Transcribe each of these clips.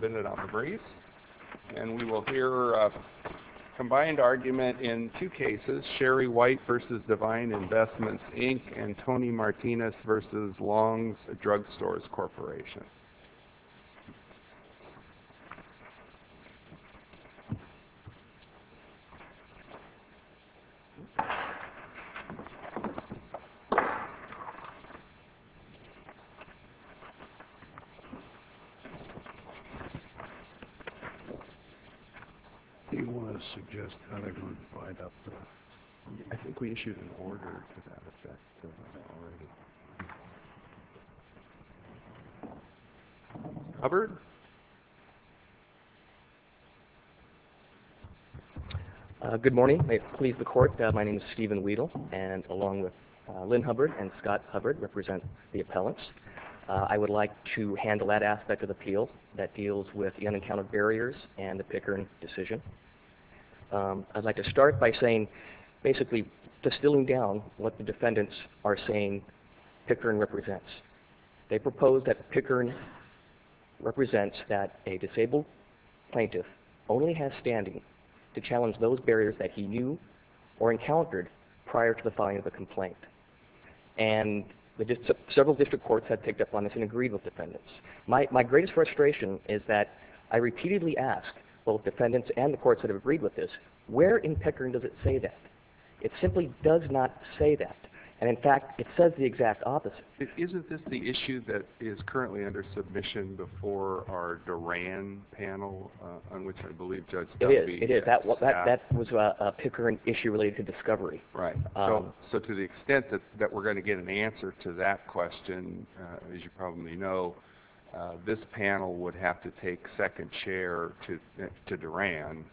We will hear a combined argument in two cases, Sherry White v. Divine Investments, Inc. and Tony Martinez v. Long's Drug Stores Corporation. Do you want to suggest how they're going to divide up the... I think we issued an order to that effect. Hubbard? Good morning. May it please the Court, my name is Stephen Weedle, and along with Lynn Hubbard and Scott Hubbard represent the appellants. I would like to handle that aspect of the appeal that deals with the unencountered barriers and the Pickern decision. I'd like to start by saying, basically distilling down what the defendants are saying Pickern represents. They propose that Pickern represents that a disabled plaintiff only has standing to challenge those barriers that he knew or encountered prior to the filing of a complaint. And several district courts have picked up on this and agreed with defendants. My greatest frustration is that I repeatedly ask both defendants and the courts that have agreed with this, where in Pickern does it say that? It simply does not say that. And in fact, it says the exact opposite. Isn't this the issue that is currently under submission before our Duran panel, on which I believe Judge Doby... It is. That was a Pickern issue related to discovery. Right. So to the extent that we're going to get an answer to that question, as you probably know, this panel would have to take second chair to Duran.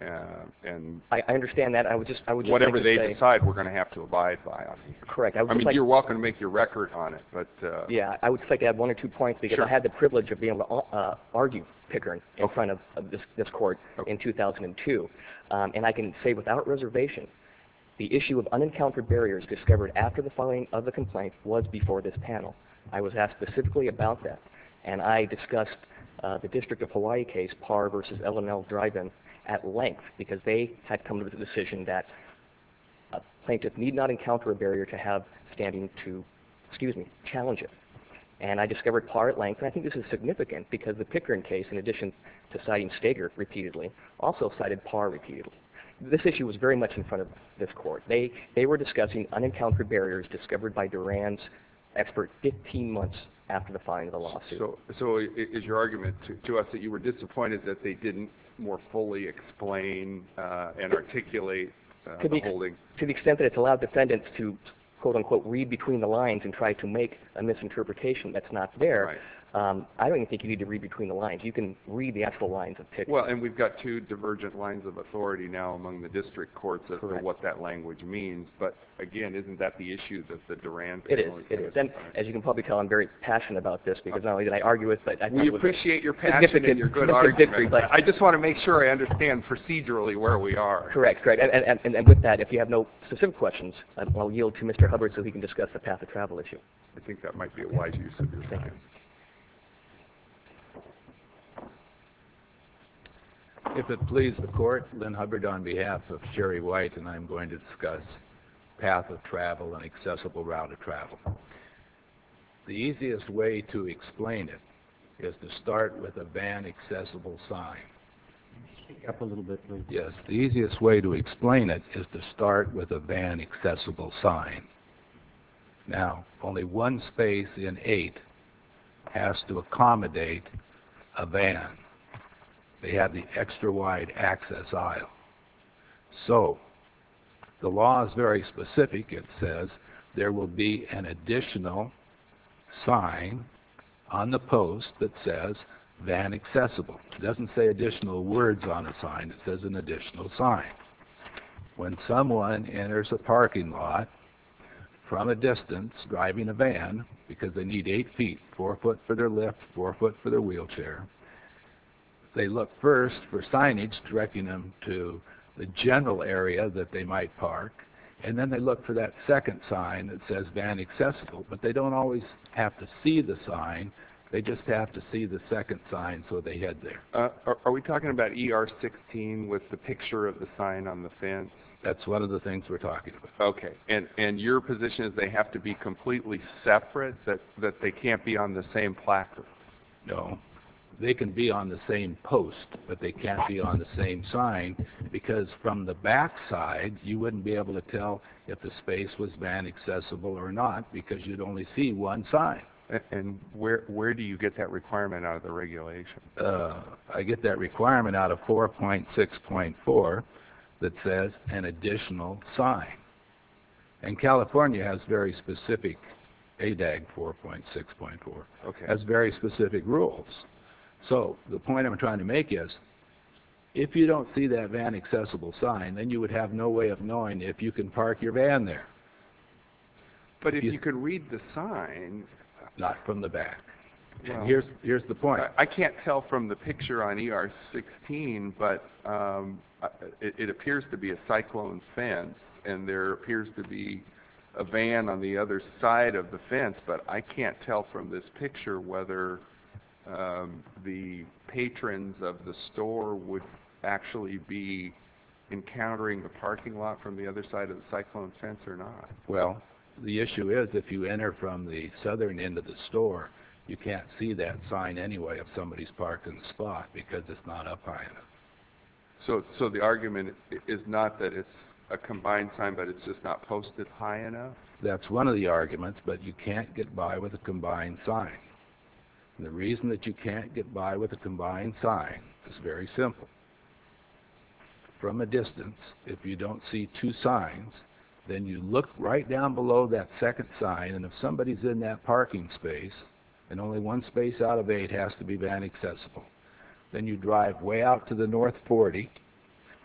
I understand that. I would just like to say... Whatever they decide, we're going to have to abide by on it. Correct. I mean, you're welcome to make your record on it, but... Yeah, I would like to add one or two points because I had the privilege of being able to argue Pickern in front of this court in 2002. And I can say without reservation, the issue of unencountered barriers discovered after the filing of the complaint was before this panel. I was asked specifically about that. And I discussed the District of Hawaii case, Parr v. L&L Dryden, at length because they had come to the decision that a plaintiff need not encounter a barrier to have standing to challenge it. And I discovered Parr at length. And I think this is significant because the Pickern case, in addition to citing Steger repeatedly, also cited Parr repeatedly. This issue was very much in front of this court. They were discussing unencountered barriers discovered by Duran's expert 15 months after the filing of the lawsuit. So is your argument to us that you were disappointed that they didn't more fully explain and articulate the holding? To the extent that it's allowed defendants to, quote-unquote, read between the lines and try to make a misinterpretation that's not there, I don't even think you need to read between the lines. You can read the actual lines of Pickern. Well, and we've got two divergent lines of authority now among the district courts as to what that language means. But, again, isn't that the issue that the Duran family cares about? It is. And as you can probably tell, I'm very passionate about this because not only did I argue it, but I knew it was significant. You appreciate your passion and your good argument. I just want to make sure I understand procedurally where we are. Correct, correct. And with that, if you have no specific questions, I'll yield to Mr. Hubbard so he can discuss the path of travel issue. I think that might be a wise use of your time. Thank you. If it pleases the court, Lynn Hubbard on behalf of Sherry White, and I'm going to discuss path of travel and accessible route of travel. The easiest way to explain it is to start with a van accessible sign. Can you speak up a little bit, please? Yes. The easiest way to explain it is to start with a van accessible sign. Now, only one space in eight has to accommodate a van. They have the extra wide access aisle. So the law is very specific. It says there will be an additional sign on the post that says van accessible. It doesn't say additional words on the sign. It says an additional sign. When someone enters a parking lot from a distance driving a van, because they need eight feet, four foot for their lift, four foot for their wheelchair, they look first for signage directing them to the general area that they might park, and then they look for that second sign that says van accessible. But they don't always have to see the sign. They just have to see the second sign so they head there. Are we talking about ER 16 with the picture of the sign on the fence? That's one of the things we're talking about. Okay. And your position is they have to be completely separate, that they can't be on the same placard? No. They can be on the same post, but they can't be on the same sign because from the backside, you wouldn't be able to tell if the space was van accessible or not because you'd only see one sign. And where do you get that requirement out of the regulation? I get that requirement out of 4.6.4 that says an additional sign. And California has very specific ADAG 4.6.4, has very specific rules. So the point I'm trying to make is if you don't see that van accessible sign, then you would have no way of knowing if you can park your van there. But if you could read the sign? Not from the back. Here's the point. I can't tell from the picture on ER 16, but it appears to be a cyclone fence, and there appears to be a van on the other side of the fence, but I can't tell from this picture whether the patrons of the store would actually be encountering the parking lot from the other side of the cyclone fence or not. Well, the issue is if you enter from the southern end of the store, you can't see that sign anyway of somebody's parking spot because it's not up high enough. So the argument is not that it's a combined sign, but it's just not posted high enough? That's one of the arguments, but you can't get by with a combined sign. The reason that you can't get by with a combined sign is very simple. From a distance, if you don't see two signs, then you look right down below that second sign, and if somebody's in that parking space, and only one space out of eight has to be van accessible, then you drive way out to the north 40,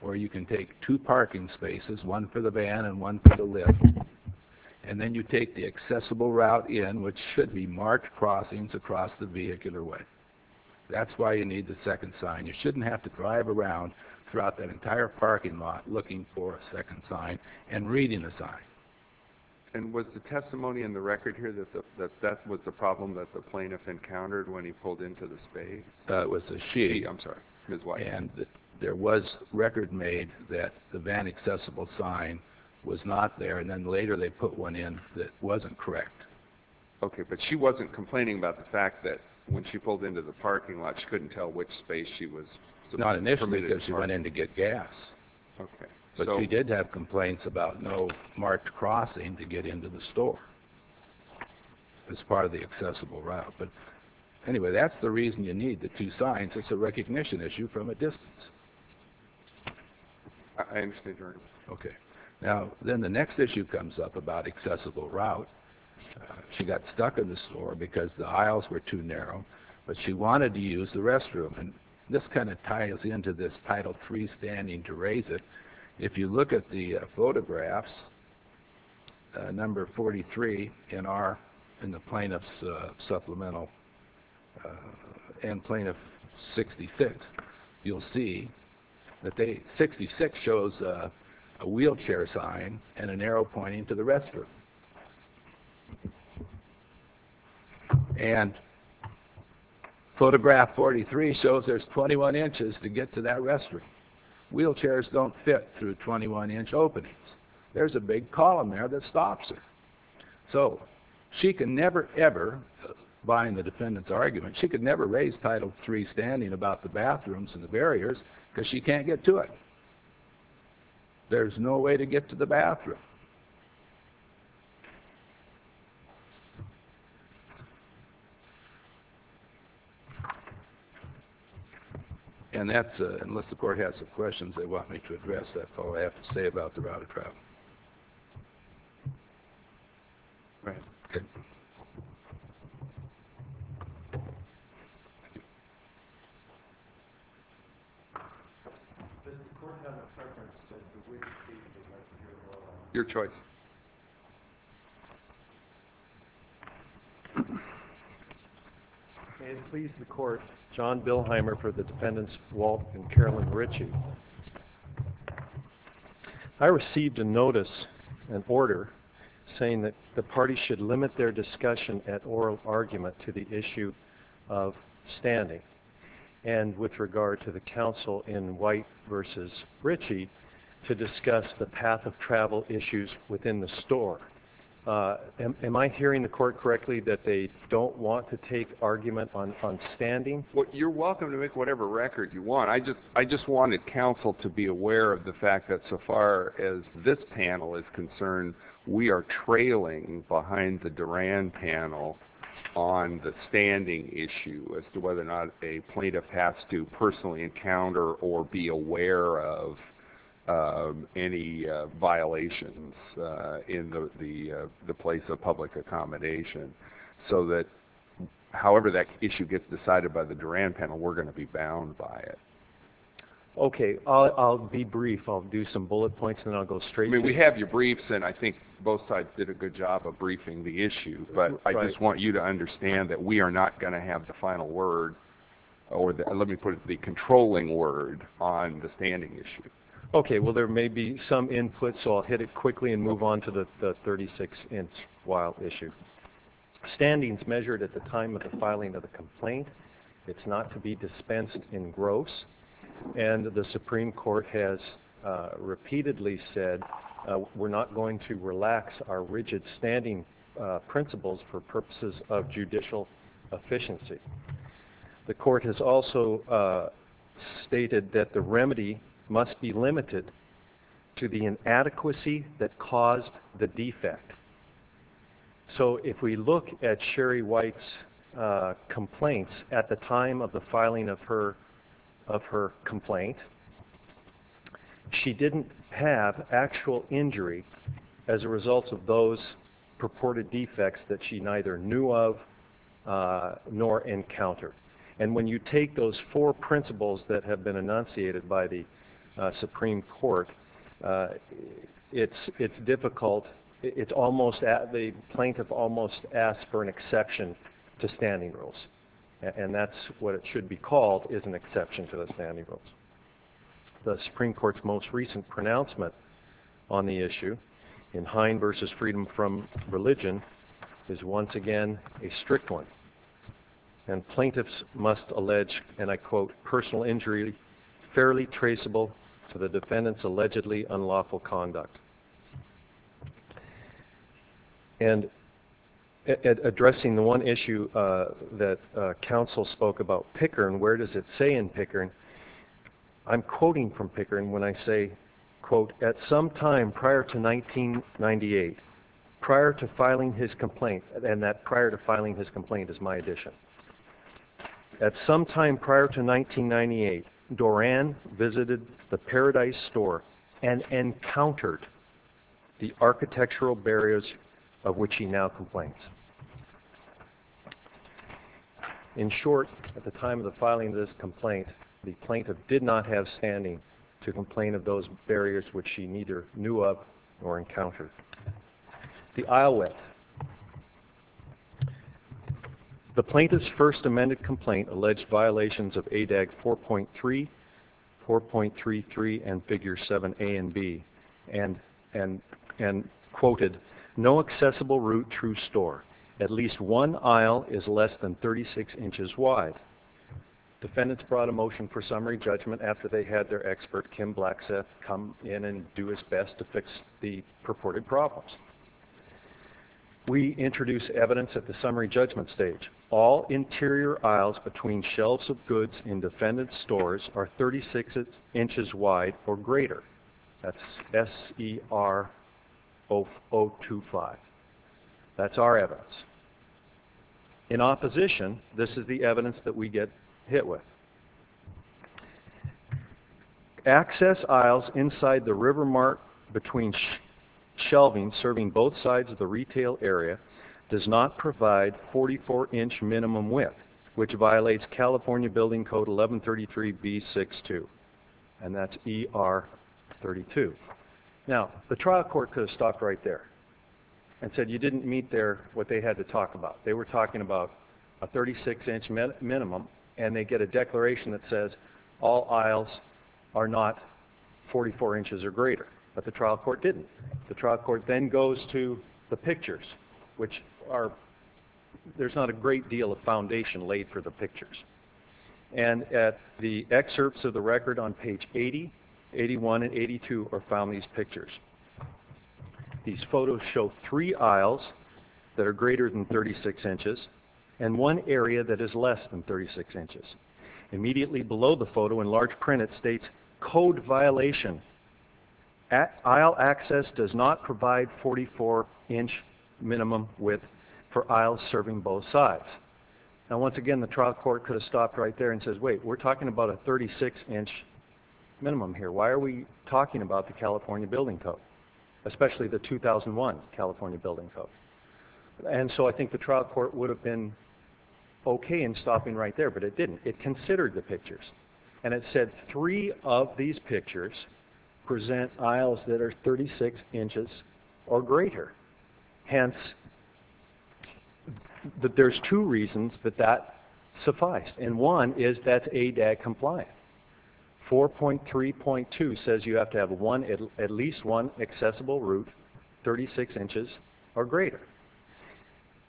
or you can take two parking spaces, one for the van and one for the lift, and then you take the accessible route in, which should be marked crossings across the vehicular way. That's why you need the second sign. You shouldn't have to drive around throughout that entire parking lot looking for a second sign and reading the sign. And was the testimony in the record here that that was the problem that the plaintiff encountered when he pulled into the space? It was a she. I'm sorry, Ms. White. And there was record made that the van accessible sign was not there, and then later they put one in that wasn't correct. Okay, but she wasn't complaining about the fact that when she pulled into the parking lot, she couldn't tell which space she was permitted to park? Not initially because she went in to get gas. But she did have complaints about no marked crossing to get into the store as part of the accessible route. But anyway, that's the reason you need the two signs. It's a recognition issue from a distance. I understand your argument. Okay. Now, then the next issue comes up about accessible route. She got stuck in the store because the aisles were too narrow, but she wanted to use the restroom. And this kind of ties into this Title III standing to raise it. If you look at the photographs, number 43 in the plaintiff's supplemental and Plaintiff 66, you'll see that 66 shows a wheelchair sign and an arrow pointing to the restroom. And photograph 43 shows there's 21 inches to get to that restroom. Wheelchairs don't fit through 21-inch openings. There's a big column there that stops her. So she can never ever, buying the defendant's argument, she could never raise Title III standing about the bathrooms and the barriers because she can't get to it. There's no way to get to the bathroom. And that's it. Unless the court has some questions they want me to address, that's all I have to say about the route of travel. All right. Okay. Thank you. Your choice. May it please the Court, John Bilheimer for the defendants Walt and Carolyn Ritchie. I received a notice, an order, saying that the party should limit their discussion at oral argument to the issue of standing. And with regard to the counsel in White versus Ritchie, to discuss the path of travel issues within the store. Am I hearing the court correctly that they don't want to take argument on standing? Well, you're welcome to make whatever record you want. I just wanted counsel to be aware of the fact that so far as this panel is concerned, we are trailing behind the Duran panel on the standing issue as to whether or not a plaintiff has to personally encounter or be aware of any violations in the place of public accommodation. So that however that issue gets decided by the Duran panel, we're going to be bound by it. Okay. I'll be brief. I'll do some bullet points and then I'll go straight to it. I mean, we have your briefs and I think both sides did a good job of briefing the issue. But I just want you to understand that we are not going to have the final word or let me put it the controlling word on the standing issue. Okay. Well, there may be some input, so I'll hit it quickly and move on to the 36-inch wild issue. Standing is measured at the time of the filing of the complaint. It's not to be dispensed in gross. And the Supreme Court has repeatedly said we're not going to relax our rigid standing principles for purposes of judicial efficiency. The court has also stated that the remedy must be limited to the inadequacy that caused the defect. So if we look at Sherry White's complaints at the time of the filing of her complaint, she didn't have actual injury as a result of those purported defects that she neither knew of nor encountered. And when you take those four principles that have been enunciated by the Supreme Court, it's difficult. The plaintiff almost asked for an exception to standing rules, and that's what it should be called is an exception to the standing rules. The Supreme Court's most recent pronouncement on the issue in Hind v. Freedom from Religion is once again a strict one, and plaintiffs must allege, and I quote, personal injury fairly traceable to the defendant's allegedly unlawful conduct. And addressing the one issue that counsel spoke about Pickering, where does it say in Pickering? I'm quoting from Pickering when I say, quote, at some time prior to 1998, prior to filing his complaint, and that prior to filing his complaint is my addition. At some time prior to 1998, Doran visited the Paradise Store and encountered the architectural barriers of which he now complains. In short, at the time of the filing of this complaint, the plaintiff did not have standing to complain of those barriers which she neither knew of nor encountered. The aisle width. The plaintiff's first amended complaint alleged violations of ADAG 4.3, 4.33, and Figures 7a and b, and quoted, no accessible route through store. At least one aisle is less than 36 inches wide. Defendants brought a motion for summary judgment after they had their expert, Kim Blackseth, come in and do his best to fix the purported problems. We introduce evidence at the summary judgment stage. All interior aisles between shelves of goods in defendant's stores are 36 inches wide or greater. That's SER 025. That's our evidence. In opposition, this is the evidence that we get hit with. Access aisles inside the river mark between shelving serving both sides of the retail area does not provide 44-inch minimum width, which violates California Building Code 1133B62. And that's ER 32. Now, the trial court could have stopped right there and said, you didn't meet there what they had to talk about. They were talking about a 36-inch minimum, and they get a declaration that says all aisles are not 44 inches or greater. But the trial court didn't. The trial court then goes to the pictures, which are ñ there's not a great deal of foundation laid for the pictures. And at the excerpts of the record on page 80, 81 and 82 are found in these pictures. These photos show three aisles that are greater than 36 inches and one area that is less than 36 inches. Immediately below the photo in large print, it states, code violation, aisle access does not provide 44-inch minimum width for aisles serving both sides. Now, once again, the trial court could have stopped right there and said, wait, we're talking about a 36-inch minimum here. Why are we talking about the California Building Code, especially the 2001 California Building Code? And so I think the trial court would have been okay in stopping right there, but it didn't. It considered the pictures. And it said three of these pictures present aisles that are 36 inches or greater. Hence, there's two reasons that that suffice. And one is that's ADAG compliant. 4.3.2 says you have to have at least one accessible route 36 inches or greater.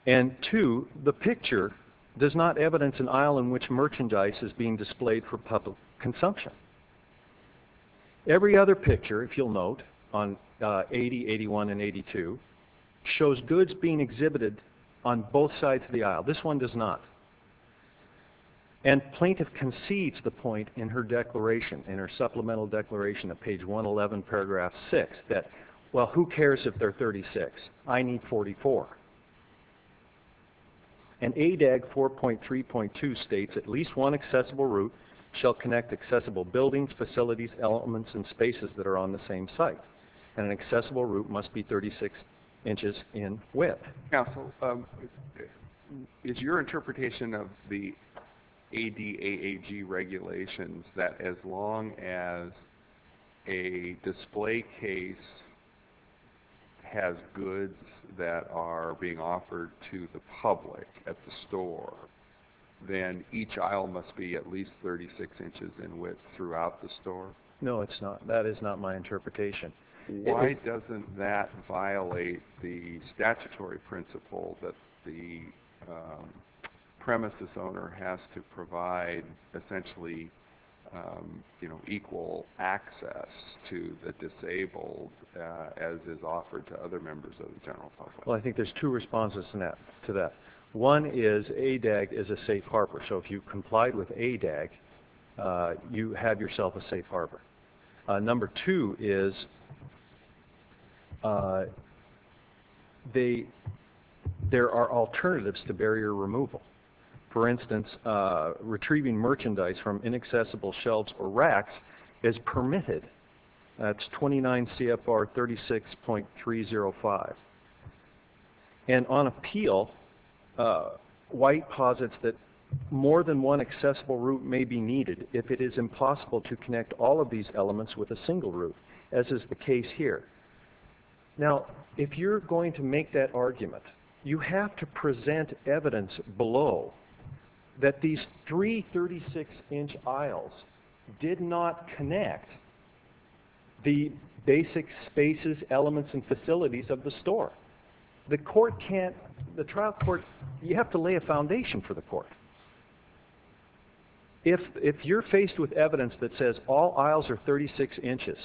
And two, the picture does not evidence an aisle in which merchandise is being displayed for public consumption. Every other picture, if you'll note, on 80, 81 and 82, shows goods being exhibited on both sides of the aisle. This one does not. And plaintiff concedes the point in her declaration, in her supplemental declaration at page 111, paragraph 6, that, well, who cares if they're 36? I need 44. And ADAG 4.3.2 states at least one accessible route shall connect accessible buildings, facilities, elements, and spaces that are on the same site. And an accessible route must be 36 inches in width. Counsel, is your interpretation of the ADAAG regulations that as long as a display case has goods that are being offered to the public at the store, then each aisle must be at least 36 inches in width throughout the store? No, it's not. That is not my interpretation. Why doesn't that violate the statutory principle that the premises owner has to provide essentially, you know, equal access to the disabled as is offered to other members of the general public? Well, I think there's two responses to that. One is ADAAG is a safe harbor. So if you complied with ADAAG, you have yourself a safe harbor. Number two is there are alternatives to barrier removal. For instance, retrieving merchandise from inaccessible shelves or racks is permitted. That's 29 CFR 36.305. And on appeal, White posits that more than one accessible route may be needed if it is impossible to connect all of these elements with a single route as is the case here. Now, if you're going to make that argument, you have to present evidence below that these three 36-inch aisles did not connect the basic spaces, elements, and facilities of the store. The trial court, you have to lay a foundation for the court. If you're faced with evidence that says all aisles are 36 inches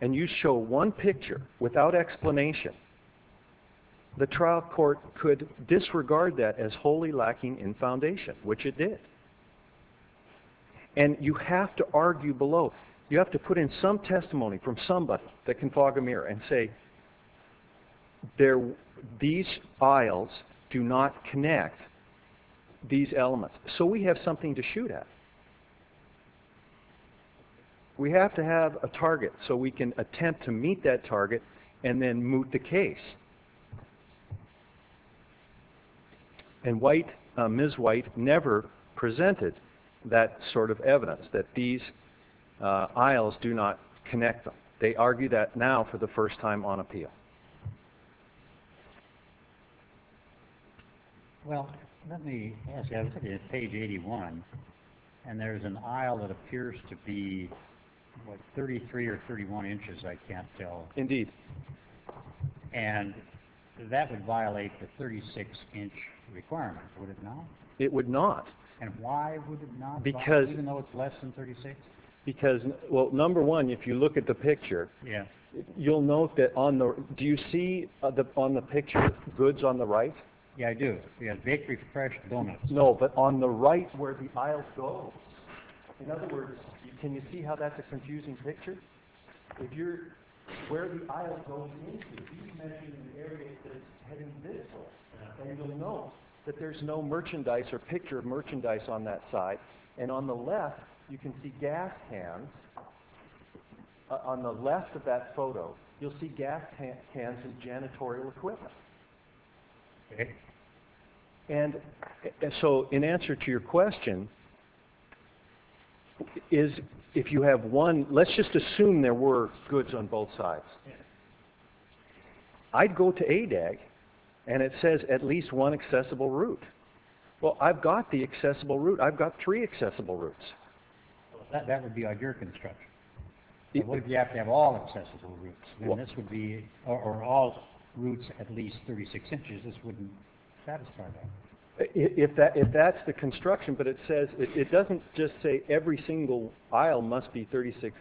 and you show one picture without explanation, the trial court could disregard that as wholly lacking in foundation, which it did. And you have to argue below. You have to put in some testimony from somebody that can fog a mirror and say these aisles do not connect these elements. So we have something to shoot at. We have to have a target so we can attempt to meet that target and then moot the case. And Ms. White never presented that sort of evidence that these aisles do not connect them. They argue that now for the first time on appeal. Well, let me ask you, on page 81, and there's an aisle that appears to be, what, 33 or 31 inches, I can't tell. Indeed. And that would violate the 36-inch requirement, would it not? It would not. And why would it not, even though it's less than 36? Because, well, number one, if you look at the picture, you'll note that on the right. Do you see on the picture goods on the right? Yeah, I do. Yeah, bakery for fresh donuts. No, but on the right where the aisles go. In other words, can you see how that's a confusing picture? If you're where the aisles go into, you mentioned an area that's heading this way. And you'll note that there's no merchandise or picture of merchandise on that side. And on the left, you can see gas cans. On the left of that photo, you'll see gas cans and janitorial equipment. And so in answer to your question, is if you have one, let's just assume there were goods on both sides. I'd go to ADAG, and it says at least one accessible route. Well, I've got the accessible route. I've got three accessible routes. That would be on your construction. What if you have to have all accessible routes, or all routes at least 36 inches? This wouldn't satisfy that. If that's the construction, but it doesn't just say every single aisle must be 36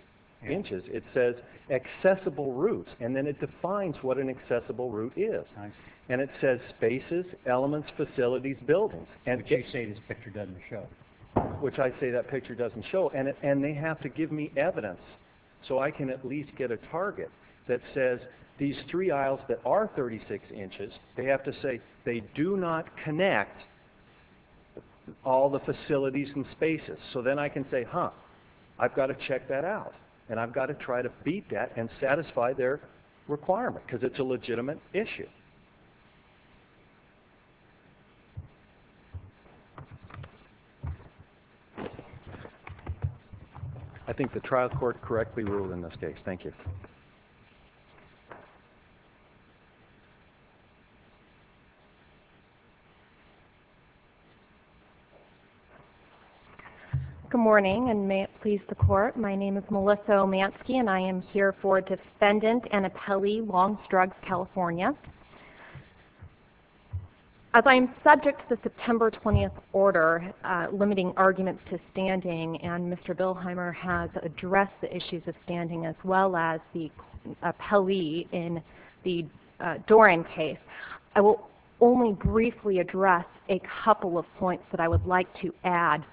inches. It says accessible routes, and then it defines what an accessible route is. Nice. And it says spaces, elements, facilities, buildings. Which you say this picture doesn't show. Which I say that picture doesn't show. And they have to give me evidence so I can at least get a target that says these three aisles that are 36 inches, they have to say they do not connect all the facilities and spaces. So then I can say, huh, I've got to check that out. And I've got to try to beat that and satisfy their requirement because it's a legitimate issue. I think the trial court correctly ruled in this case. Thank you. Good morning, and may it please the Court. My name is Melissa Omansky, and I am here for Defendant Annapelle Longstrugs, California. As I am subject to the September 20th order limiting arguments to standing, and Mr. Bilheimer has addressed the issues of standing as well as the appellee in the Doran case, I will only briefly address a couple of points that I would like to add.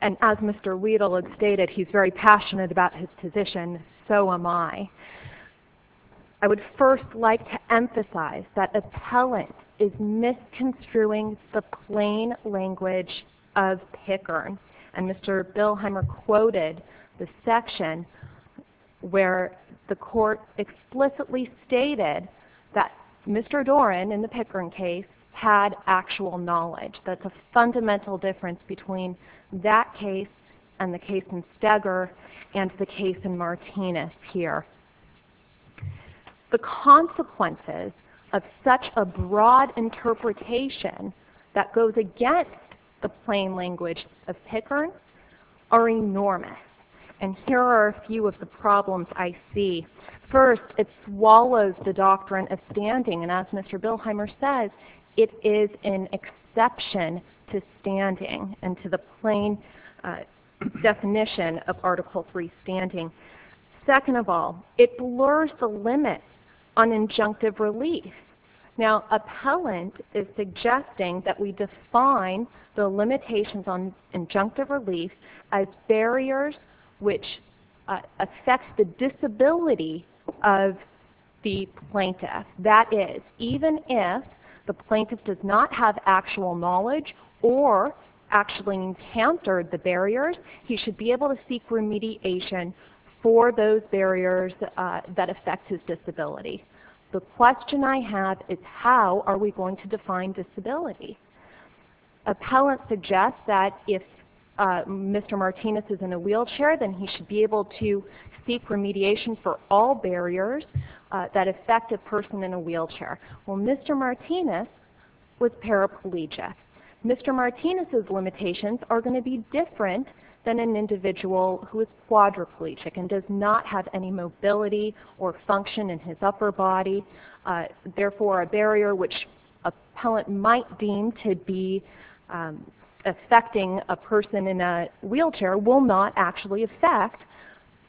And as Mr. Wedel had stated, he's very passionate about his position, so am I. I would first like to emphasize that appellant is misconstruing the plain language of Pickern. And Mr. Bilheimer quoted the section where the court explicitly stated that Mr. Doran, in the Pickern case, had actual knowledge. That's a fundamental difference between that case and the case in Steger and the case in Martinez here. The consequences of such a broad interpretation that goes against the plain language of Pickern are enormous. And here are a few of the problems I see. First, it swallows the doctrine of standing. And as Mr. Bilheimer says, it is an exception to standing and to the plain definition of Article III standing. Second of all, it blurs the limits on injunctive relief. Now, appellant is suggesting that we define the limitations on injunctive relief as barriers which affect the disability of the plaintiff. That is, even if the plaintiff does not have actual knowledge or actually encountered the barriers, he should be able to seek remediation for those barriers that affect his disability. The question I have is how are we going to define disability? Appellant suggests that if Mr. Martinez is in a wheelchair, then he should be able to seek remediation for all barriers that affect a person in a wheelchair. Well, Mr. Martinez was paraplegic. Mr. Martinez's limitations are going to be different than an individual who is quadriplegic and does not have any mobility or function in his upper body, therefore a barrier which appellant might deem to be affecting a person in a wheelchair will not actually affect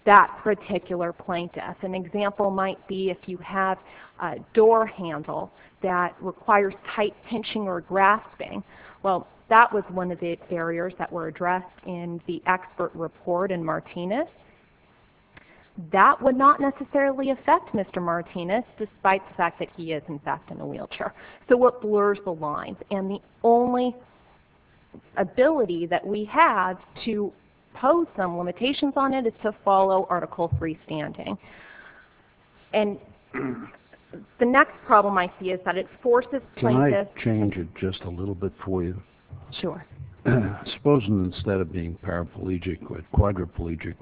that particular plaintiff. An example might be if you have a door handle that requires tight pinching or grasping. Well, that was one of the barriers that were addressed in the expert report in Martinez. That would not necessarily affect Mr. Martinez despite the fact that he is in fact in a wheelchair. So what blurs the lines? And the only ability that we have to pose some limitations on it is to follow Article 3 standing. And the next problem I see is that it forces plaintiffs... Can I change it just a little bit for you? Sure. Supposing instead of being paraplegic or quadriplegic,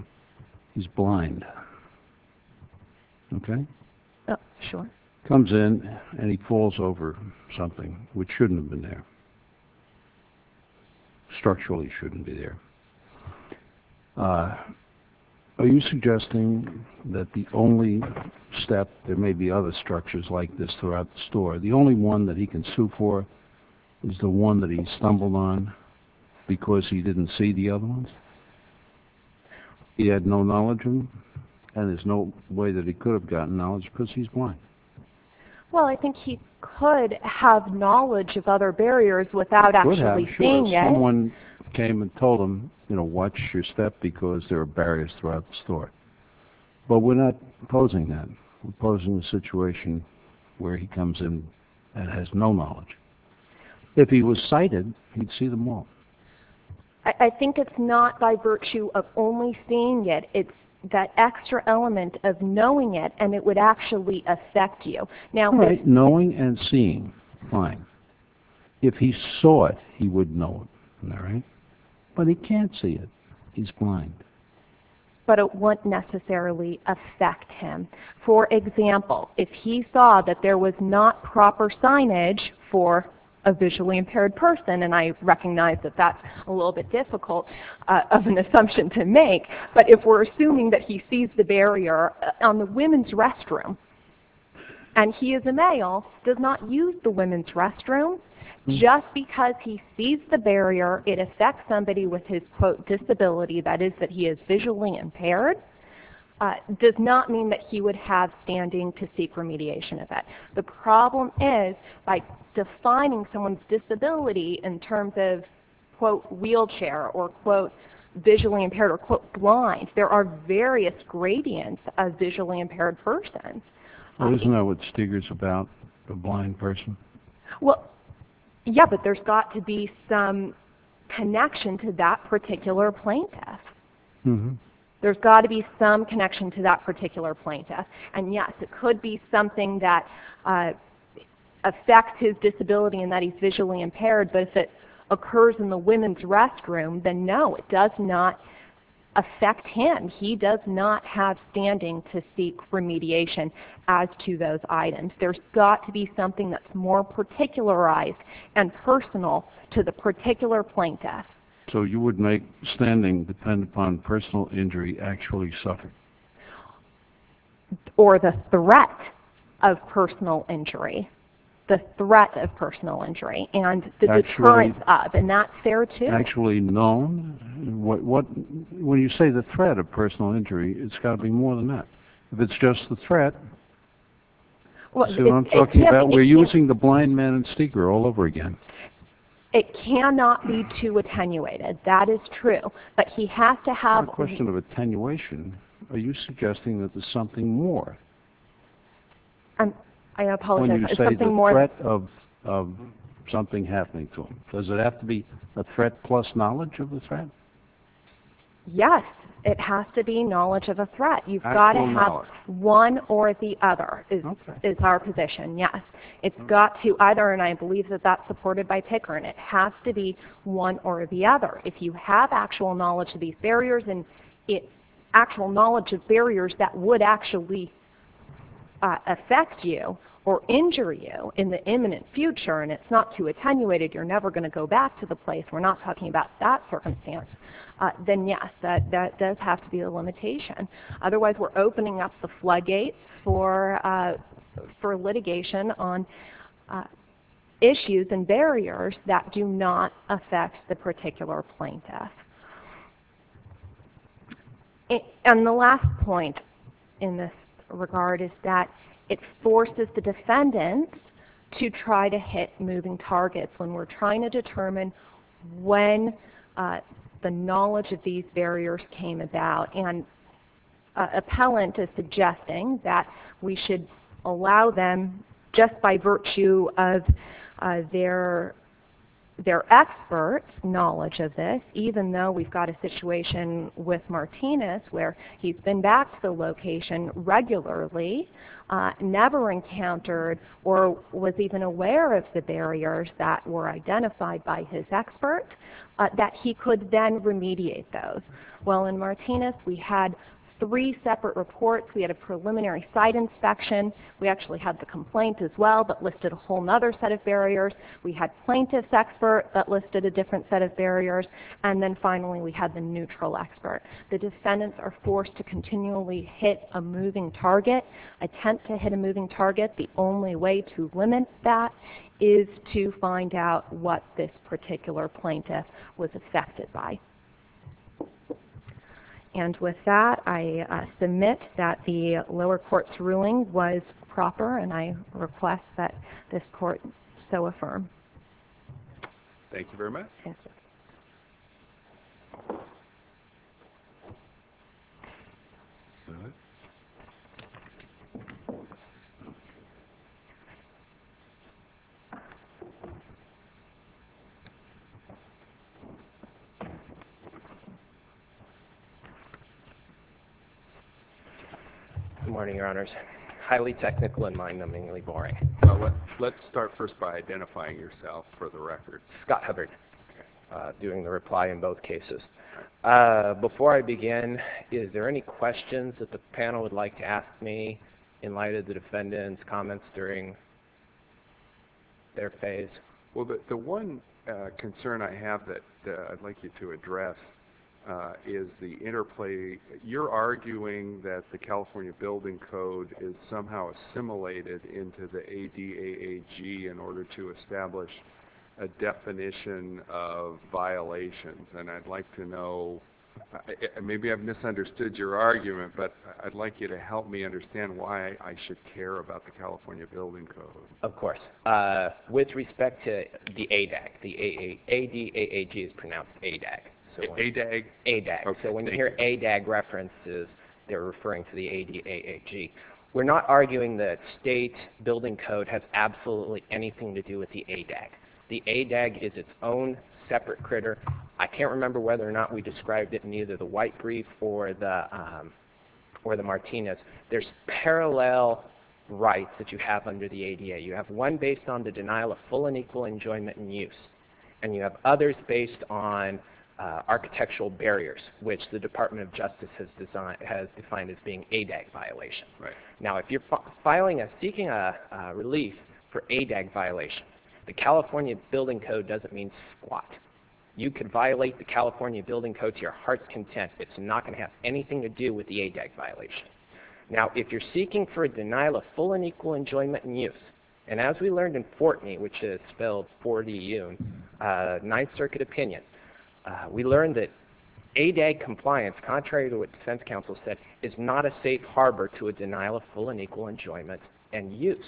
he's blind, okay? Sure. Comes in and he falls over something which shouldn't have been there, structurally shouldn't be there. Are you suggesting that the only step, there may be other structures like this throughout the store, the only one that he can sue for is the one that he stumbled on because he didn't see the other ones? He had no knowledge and there's no way that he could have gotten knowledge because he's blind. Well, I think he could have knowledge of other barriers without actually seeing them. Someone came and told him, you know, watch your step because there are barriers throughout the store. But we're not opposing that. We're opposing the situation where he comes in and has no knowledge. If he was sighted, he'd see them all. I think it's not by virtue of only seeing it. It's that extra element of knowing it and it would actually affect you. Knowing and seeing, fine. If he saw it, he would know it. But he can't see it. He's blind. But it wouldn't necessarily affect him. For example, if he saw that there was not proper signage for a visually impaired person, and I recognize that that's a little bit difficult of an assumption to make, but if we're assuming that he sees the barrier on the women's restroom, and he is a male, does not use the women's restroom, just because he sees the barrier, it affects somebody with his, quote, disability, that is that he is visually impaired, does not mean that he would have standing to seek remediation of that. The problem is by defining someone's disability in terms of, quote, wheelchair, or, quote, visually impaired, or, quote, blind, there are various gradients of visually impaired persons. Doesn't that what Steger's about, the blind person? Well, yeah, but there's got to be some connection to that particular plaintiff. There's got to be some connection to that particular plaintiff. And, yes, it could be something that affects his disability and that he's visually impaired, but if it occurs in the women's restroom, then no, it does not affect him. He does not have standing to seek remediation as to those items. There's got to be something that's more particularized and personal to the particular plaintiff. So you would make standing depend upon personal injury actually suffering? Or the threat of personal injury, the threat of personal injury, and the deterrence of, and that's fair, too. Actually known? When you say the threat of personal injury, it's got to be more than that. If it's just the threat, see what I'm talking about? We're using the blind man and Steger all over again. It cannot be too attenuated. That is true, but he has to have... It's not a question of attenuation. Are you suggesting that there's something more? I apologize. When you say the threat of something happening to him, does it have to be a threat plus knowledge of the threat? Yes, it has to be knowledge of the threat. You've got to have one or the other is our position, yes. It's got to either, and I believe that that's supported by Picker, and it has to be one or the other. If you have actual knowledge of these barriers and actual knowledge of barriers that would actually affect you or injure you in the imminent future and it's not too attenuated, you're never going to go back to the place. We're not talking about that circumstance. Then yes, that does have to be a limitation. Otherwise, we're opening up the floodgates for litigation on issues and barriers that do not affect the particular plaintiff. And the last point in this regard is that it forces the defendants to try to hit moving targets when we're trying to determine when the knowledge of these barriers came about. And Appellant is suggesting that we should allow them, just by virtue of their expert knowledge of this, even though we've got a situation with Martinez where he's been back to the location regularly, never encountered or was even aware of the barriers that were identified by his expert, that he could then remediate those. Well, in Martinez we had three separate reports. We had a preliminary site inspection. We actually had the complaint as well, but listed a whole other set of barriers. We had plaintiff's expert, but listed a different set of barriers. And then finally we had the neutral expert. The defendants are forced to continually hit a moving target, attempt to hit a moving target. The only way to limit that is to find out what this particular plaintiff was affected by. And with that, I submit that the lower court's ruling was proper, and I request that this court so affirm. Thank you very much. Good morning, Your Honors. Highly technical and mind-numbingly boring. Let's start first by identifying yourself for the record. Scott Hubbard, doing the reply in both cases. Before I begin, is there any questions that the panel would like to ask me in light of the defendant's comments during their phase? Well, the one concern I have that I'd like you to address is the interplay. You're arguing that the California Building Code is somehow assimilated into the ADAAG in order to establish a definition of violations, and I'd like to know. Maybe I've misunderstood your argument, but I'd like you to help me understand why I should care about the California Building Code. Of course. With respect to the ADAAG, the A-D-A-A-G is pronounced A-DAG. A-DAG? A-DAG. So when you hear A-DAG references, they're referring to the A-D-A-A-G. We're not arguing that state building code has absolutely anything to do with the A-DAG. The A-DAG is its own separate critter. I can't remember whether or not we described it in either the White Brief or the Martinez. There's parallel rights that you have under the ADA. You have one based on the denial of full and equal enjoyment and use, and you have others based on architectural barriers, which the Department of Justice has defined as being A-DAG violation. Right. Now, if you're seeking a relief for A-DAG violation, the California Building Code doesn't mean squat. You could violate the California Building Code to your heart's content. It's not going to have anything to do with the A-DAG violation. Now, if you're seeking for a denial of full and equal enjoyment and use, and as we learned in Fortney, which is spelled 4D-UNE, Ninth Circuit opinion, we learned that A-DAG compliance, contrary to what defense counsel said, is not a safe harbor to a denial of full and equal enjoyment and use.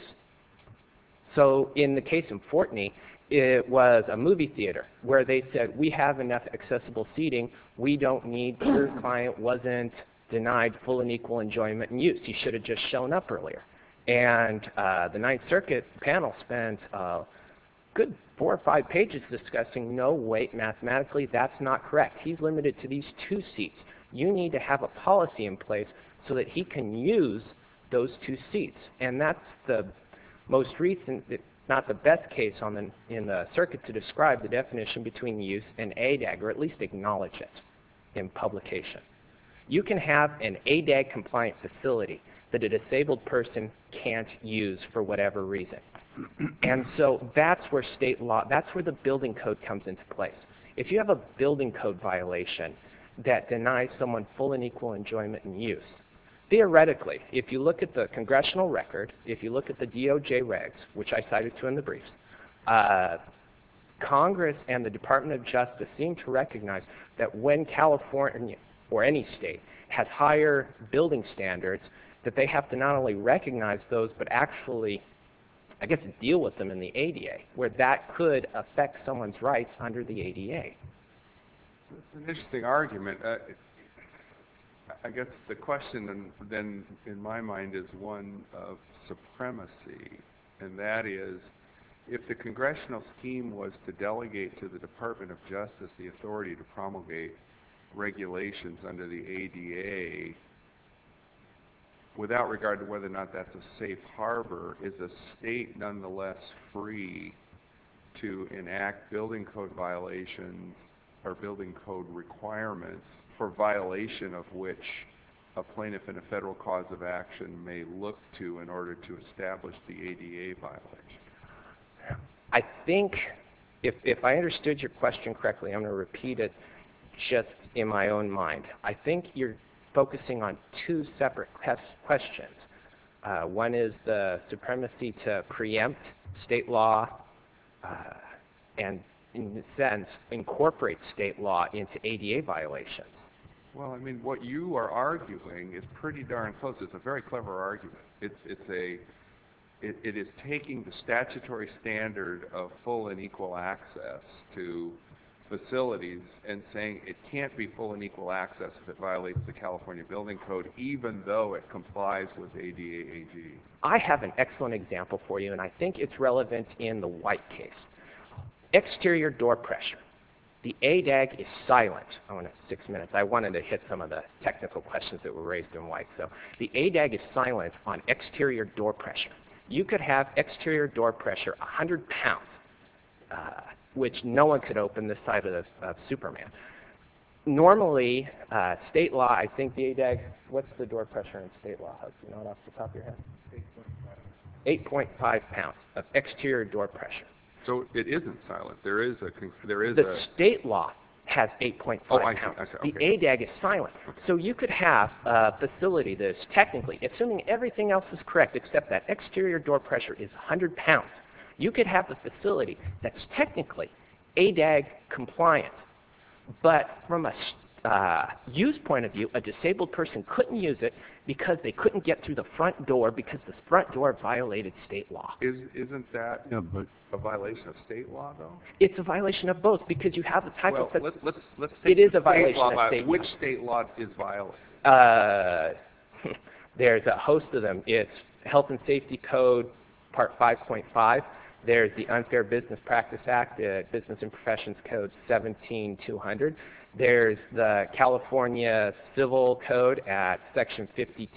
So in the case of Fortney, it was a movie theater where they said, we have enough accessible seating. Your client wasn't denied full and equal enjoyment and use. He should have just shown up earlier. And the Ninth Circuit panel spent a good four or five pages discussing, no, wait, mathematically, that's not correct. He's limited to these two seats. You need to have a policy in place so that he can use those two seats. And that's the most recent, not the best case in the circuit to describe the definition between use and A-DAG, or at least acknowledge it in publication. You can have an A-DAG compliant facility that a disabled person can't use for whatever reason. And so that's where state law, that's where the building code comes into place. If you have a building code violation that denies someone full and equal enjoyment and use, theoretically, if you look at the congressional record, if you look at the DOJ regs, which I cited to in the briefs, Congress and the Department of Justice seem to recognize that when California or any state has higher building standards, that they have to not only recognize those but actually, I guess, deal with them in the A-DA, where that could affect someone's rights under the A-DA. That's an interesting argument. I guess the question then in my mind is one of supremacy, and that is if the congressional scheme was to delegate to the Department of Justice the authority to promulgate regulations under the A-DA, without regard to whether or not that's a safe harbor, is the state nonetheless free to enact building code violations or building code requirements for violation of which a plaintiff and a federal cause of action may look to in order to establish the A-DA violation? I think if I understood your question correctly, I'm going to repeat it just in my own mind. I think you're focusing on two separate questions. One is the supremacy to preempt state law and, in a sense, incorporate state law into A-DA violations. Well, I mean, what you are arguing is pretty darn close. It's a very clever argument. It is taking the statutory standard of full and equal access to facilities and saying it can't be full and equal access if it violates the California Building Code, even though it complies with A-DA AG. I have an excellent example for you, and I think it's relevant in the White case. Exterior door pressure. The A-DAG is silent. I wanted to hit some of the technical questions that were raised in White. The A-DAG is silent on exterior door pressure. You could have exterior door pressure 100 pounds, which no one could open the size of Superman. Normally, state law, I think the A-DAG, what's the door pressure in state law? Do you know off the top of your head? 8.5 pounds of exterior door pressure. So it isn't silent. The state law has 8.5 pounds. The A-DAG is silent. So you could have a facility that is technically, assuming everything else is correct except that exterior door pressure is 100 pounds, you could have a facility that's technically A-DAG compliant. But from a use point of view, a disabled person couldn't use it because they couldn't get through the front door because the front door violated state law. Isn't that a violation of state law, though? It's a violation of both because you have the type of facility. It is a violation of state law. Which state law is violated? There's a host of them. It's Health and Safety Code Part 5.5. There's the Unfair Business Practice Act, Business and Professions Code 17-200. There's the California Civil Code at Section 51.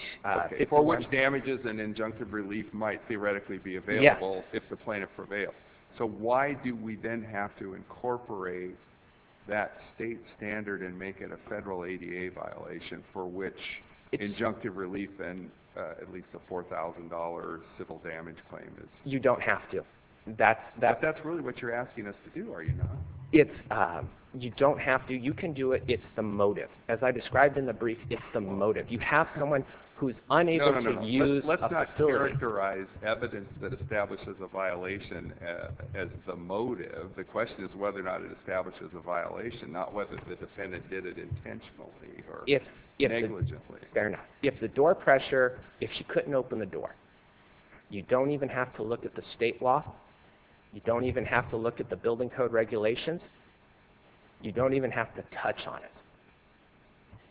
For which damages and injunctive relief might theoretically be available if the plaintiff prevails. So why do we then have to incorporate that state standard and make it a federal A-DA violation for which injunctive relief and at least a $4,000 civil damage claim is? You don't have to. But that's really what you're asking us to do, are you not? You don't have to. You can do it. It's the motive. As I described in the brief, it's the motive. You have someone who is unable to use a facility. Let's not characterize evidence that establishes a violation as the motive. The question is whether or not it establishes a violation, not whether the defendant did it intentionally or negligently. Fair enough. If the door pressure, if she couldn't open the door, you don't even have to look at the state law. You don't even have to look at the building code regulations. You don't even have to touch on it.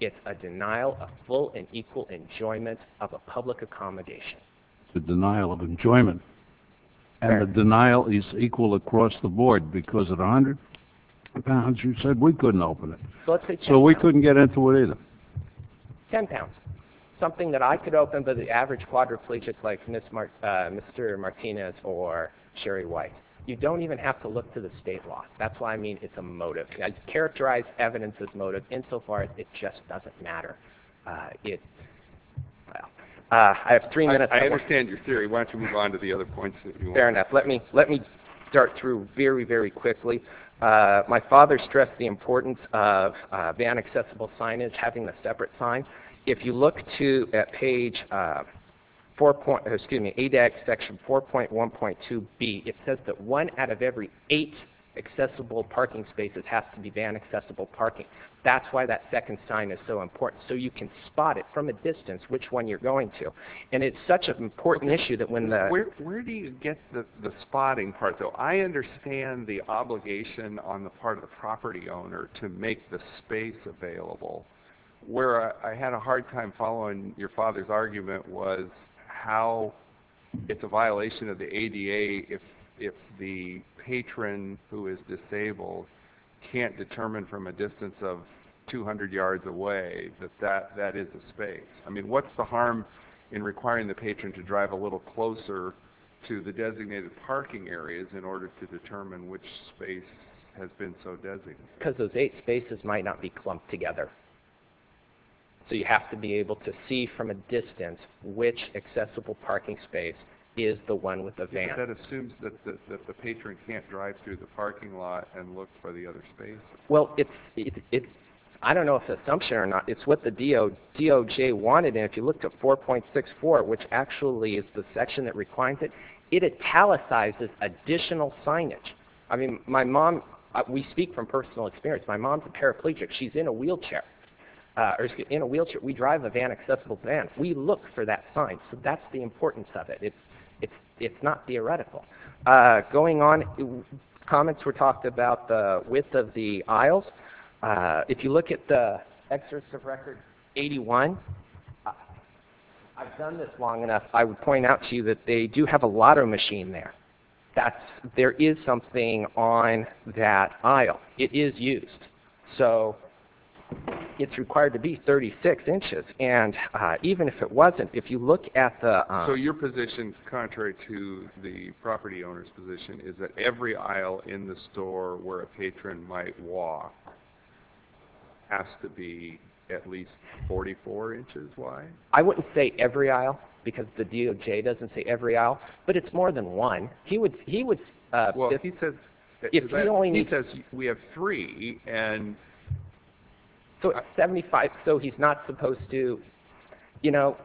It's a denial of full and equal enjoyment of a public accommodation. It's a denial of enjoyment. And the denial is equal across the board because at 100 pounds, you said we couldn't open it. So we couldn't get into it either. Ten pounds. Something that I could open, but the average quadriplegic like Mr. Martinez or Sherry White, you don't even have to look to the state law. That's why I mean it's a motive. Characterize evidence as motive insofar as it just doesn't matter. I have three minutes. I understand your theory. Why don't you move on to the other points? Fair enough. Let me start through very, very quickly. My father stressed the importance of van accessible signage, having a separate sign. If you look at page ADAC section 4.1.2B, it says that one out of every eight accessible parking spaces has to be van accessible parking. That's why that second sign is so important. So you can spot it from a distance which one you're going to. And it's such an important issue that when the... Where do you get the spotting part though? I understand the obligation on the part of the property owner to make the space available. Where I had a hard time following your father's argument was how it's a space if the patron who is disabled can't determine from a distance of 200 yards away that that is a space. I mean, what's the harm in requiring the patron to drive a little closer to the designated parking areas in order to determine which space has been so designated? Because those eight spaces might not be clumped together. So you have to be able to see from a distance which accessible parking space is the one with the van. That assumes that the patron can't drive through the parking lot and look for the other space? Well, I don't know if it's an assumption or not. It's what the DOJ wanted. And if you look at 4.64, which actually is the section that requires it, it italicizes additional signage. I mean, my mom, we speak from personal experience. My mom's a paraplegic. She's in a wheelchair. We drive a van accessible van. We look for that sign. So that's the importance of it. It's not theoretical. Going on, comments were talked about the width of the aisles. If you look at the exercise of record 81, I've done this long enough. I would point out to you that they do have a lot of machine there. There is something on that aisle. It is used. So it's required to be 36 inches. And even if it wasn't, if you look at the, so your position, contrary to the property owner's position, is that every aisle in the store where a patron might walk. Has to be at least 44 inches. Why? I wouldn't say every aisle because the DOJ doesn't say every aisle, but it's more than one. He would, he would, he says, we have three and. So 75. So he's not supposed to, you know,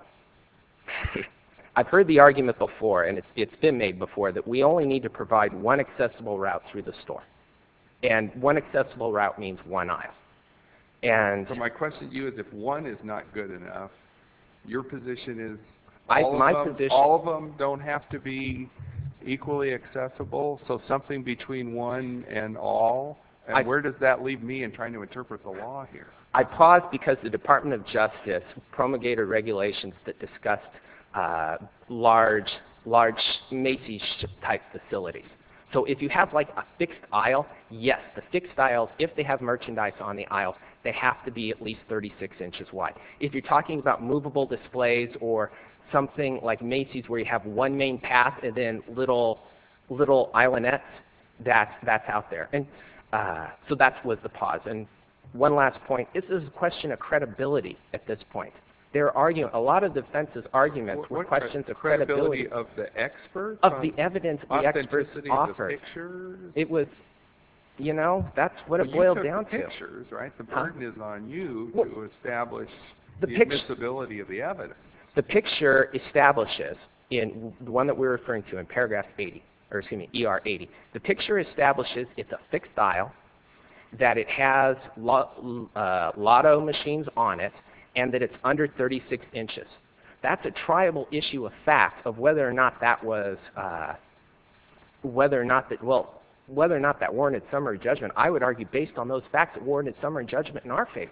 I've heard the argument before, and it's been made before that we only need to provide one accessible route through the store. And one accessible route means one aisle. And my question to you is if one is not good enough, your position is all of them don't have to be equally accessible. So something between one and all, and where does that leave me in trying to interpret the law here? I paused because the Department of Justice promulgated regulations that discussed large, large Macy's type facilities. So if you have like a fixed aisle, yes, the fixed aisles, if they have merchandise on the aisle, they have to be at least 36 inches wide. If you're talking about movable displays or something like Macy's where you have one main path, and then little, little island that's, that's out there. And so that's what the pause. And one last point. This is a question of credibility at this point. There are, you know, a lot of defenses arguments were questions of credibility of the experts, of the evidence, the experts, it was, you know, that's what it boiled down to pictures, right? The burden is on you to establish the ability of the evidence. The picture establishes in the one that we're referring to in paragraph 80, or excuse me, ER 80. The picture establishes it's a fixed aisle, that it has a lot of machines on it, and that it's under 36 inches. That's a tribal issue of fact of whether or not that was, whether or not that, well, whether or not that warranted summary judgment, I would argue based on those facts that warranted summary judgment in our favor,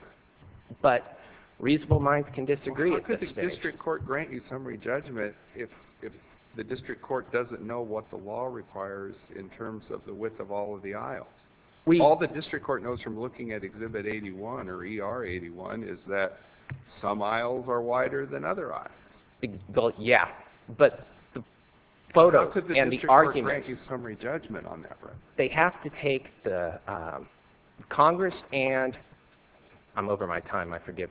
but reasonable minds can disagree with the district court grant you summary judgment. If, if the district court doesn't know what the law requires in terms of the width of all of the aisles, we all the district court knows from looking at exhibit 81 or ER 81, is that some aisles are wider than other eyes. Well, yeah, but the photo and the argument, thank you. Summary judgment on that. They have to take the Congress and I'm over my time. I forgive.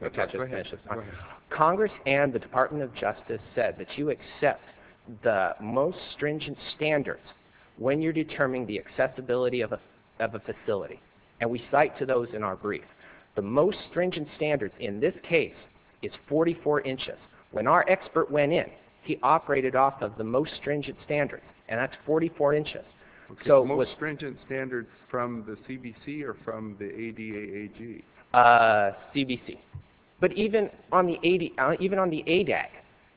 Congress and the department of justice said that you accept the most stringent standards when you're determining the accessibility of a, of a facility. And we cite to those in our brief, the most stringent standards in this case is 44 inches. When our expert went in, he operated off of the most stringent standards and that's 44 inches. So most stringent standards from the CBC or from the ADA, CBC, but even on the 80, even on the ADAC,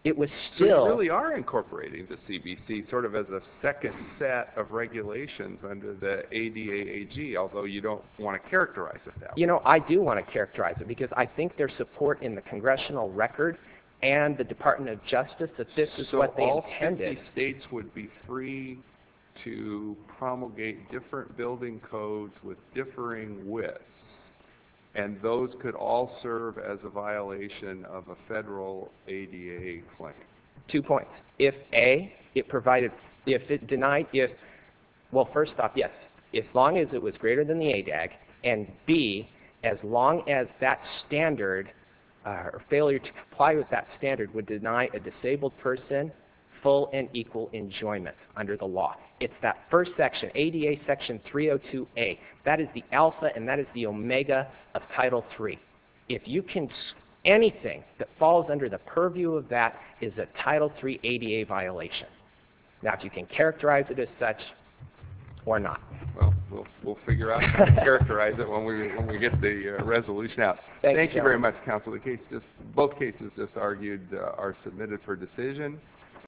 it was still, we are incorporating the CBC sort of as a second set of regulations under the ADA, although you don't want to characterize it. You know, I do want to characterize it because I think their support in the congressional record and the department of justice, that this is what they intended. States would be free to promulgate different building codes with differing widths. And those could all serve as a violation of a federal ADA claim. Two points. If a, it provided, if it denied, if, well, first off, yes, as long as it was greater than the ADAC and B, as long as that standard, a failure to comply with that standard would deny a disabled person full and equal enjoyment under the law. It's that first section, ADA section 302, a, that is the alpha. And that is the Omega of title three. If you can see anything that falls under the purview of that is a title three ADA violation. Now, if you can characterize it as such or not, well, we'll figure out how to characterize it when we, when we get the resolution out. Thank you very much. Counsel, the case, just both cases just argued are submitted for decision.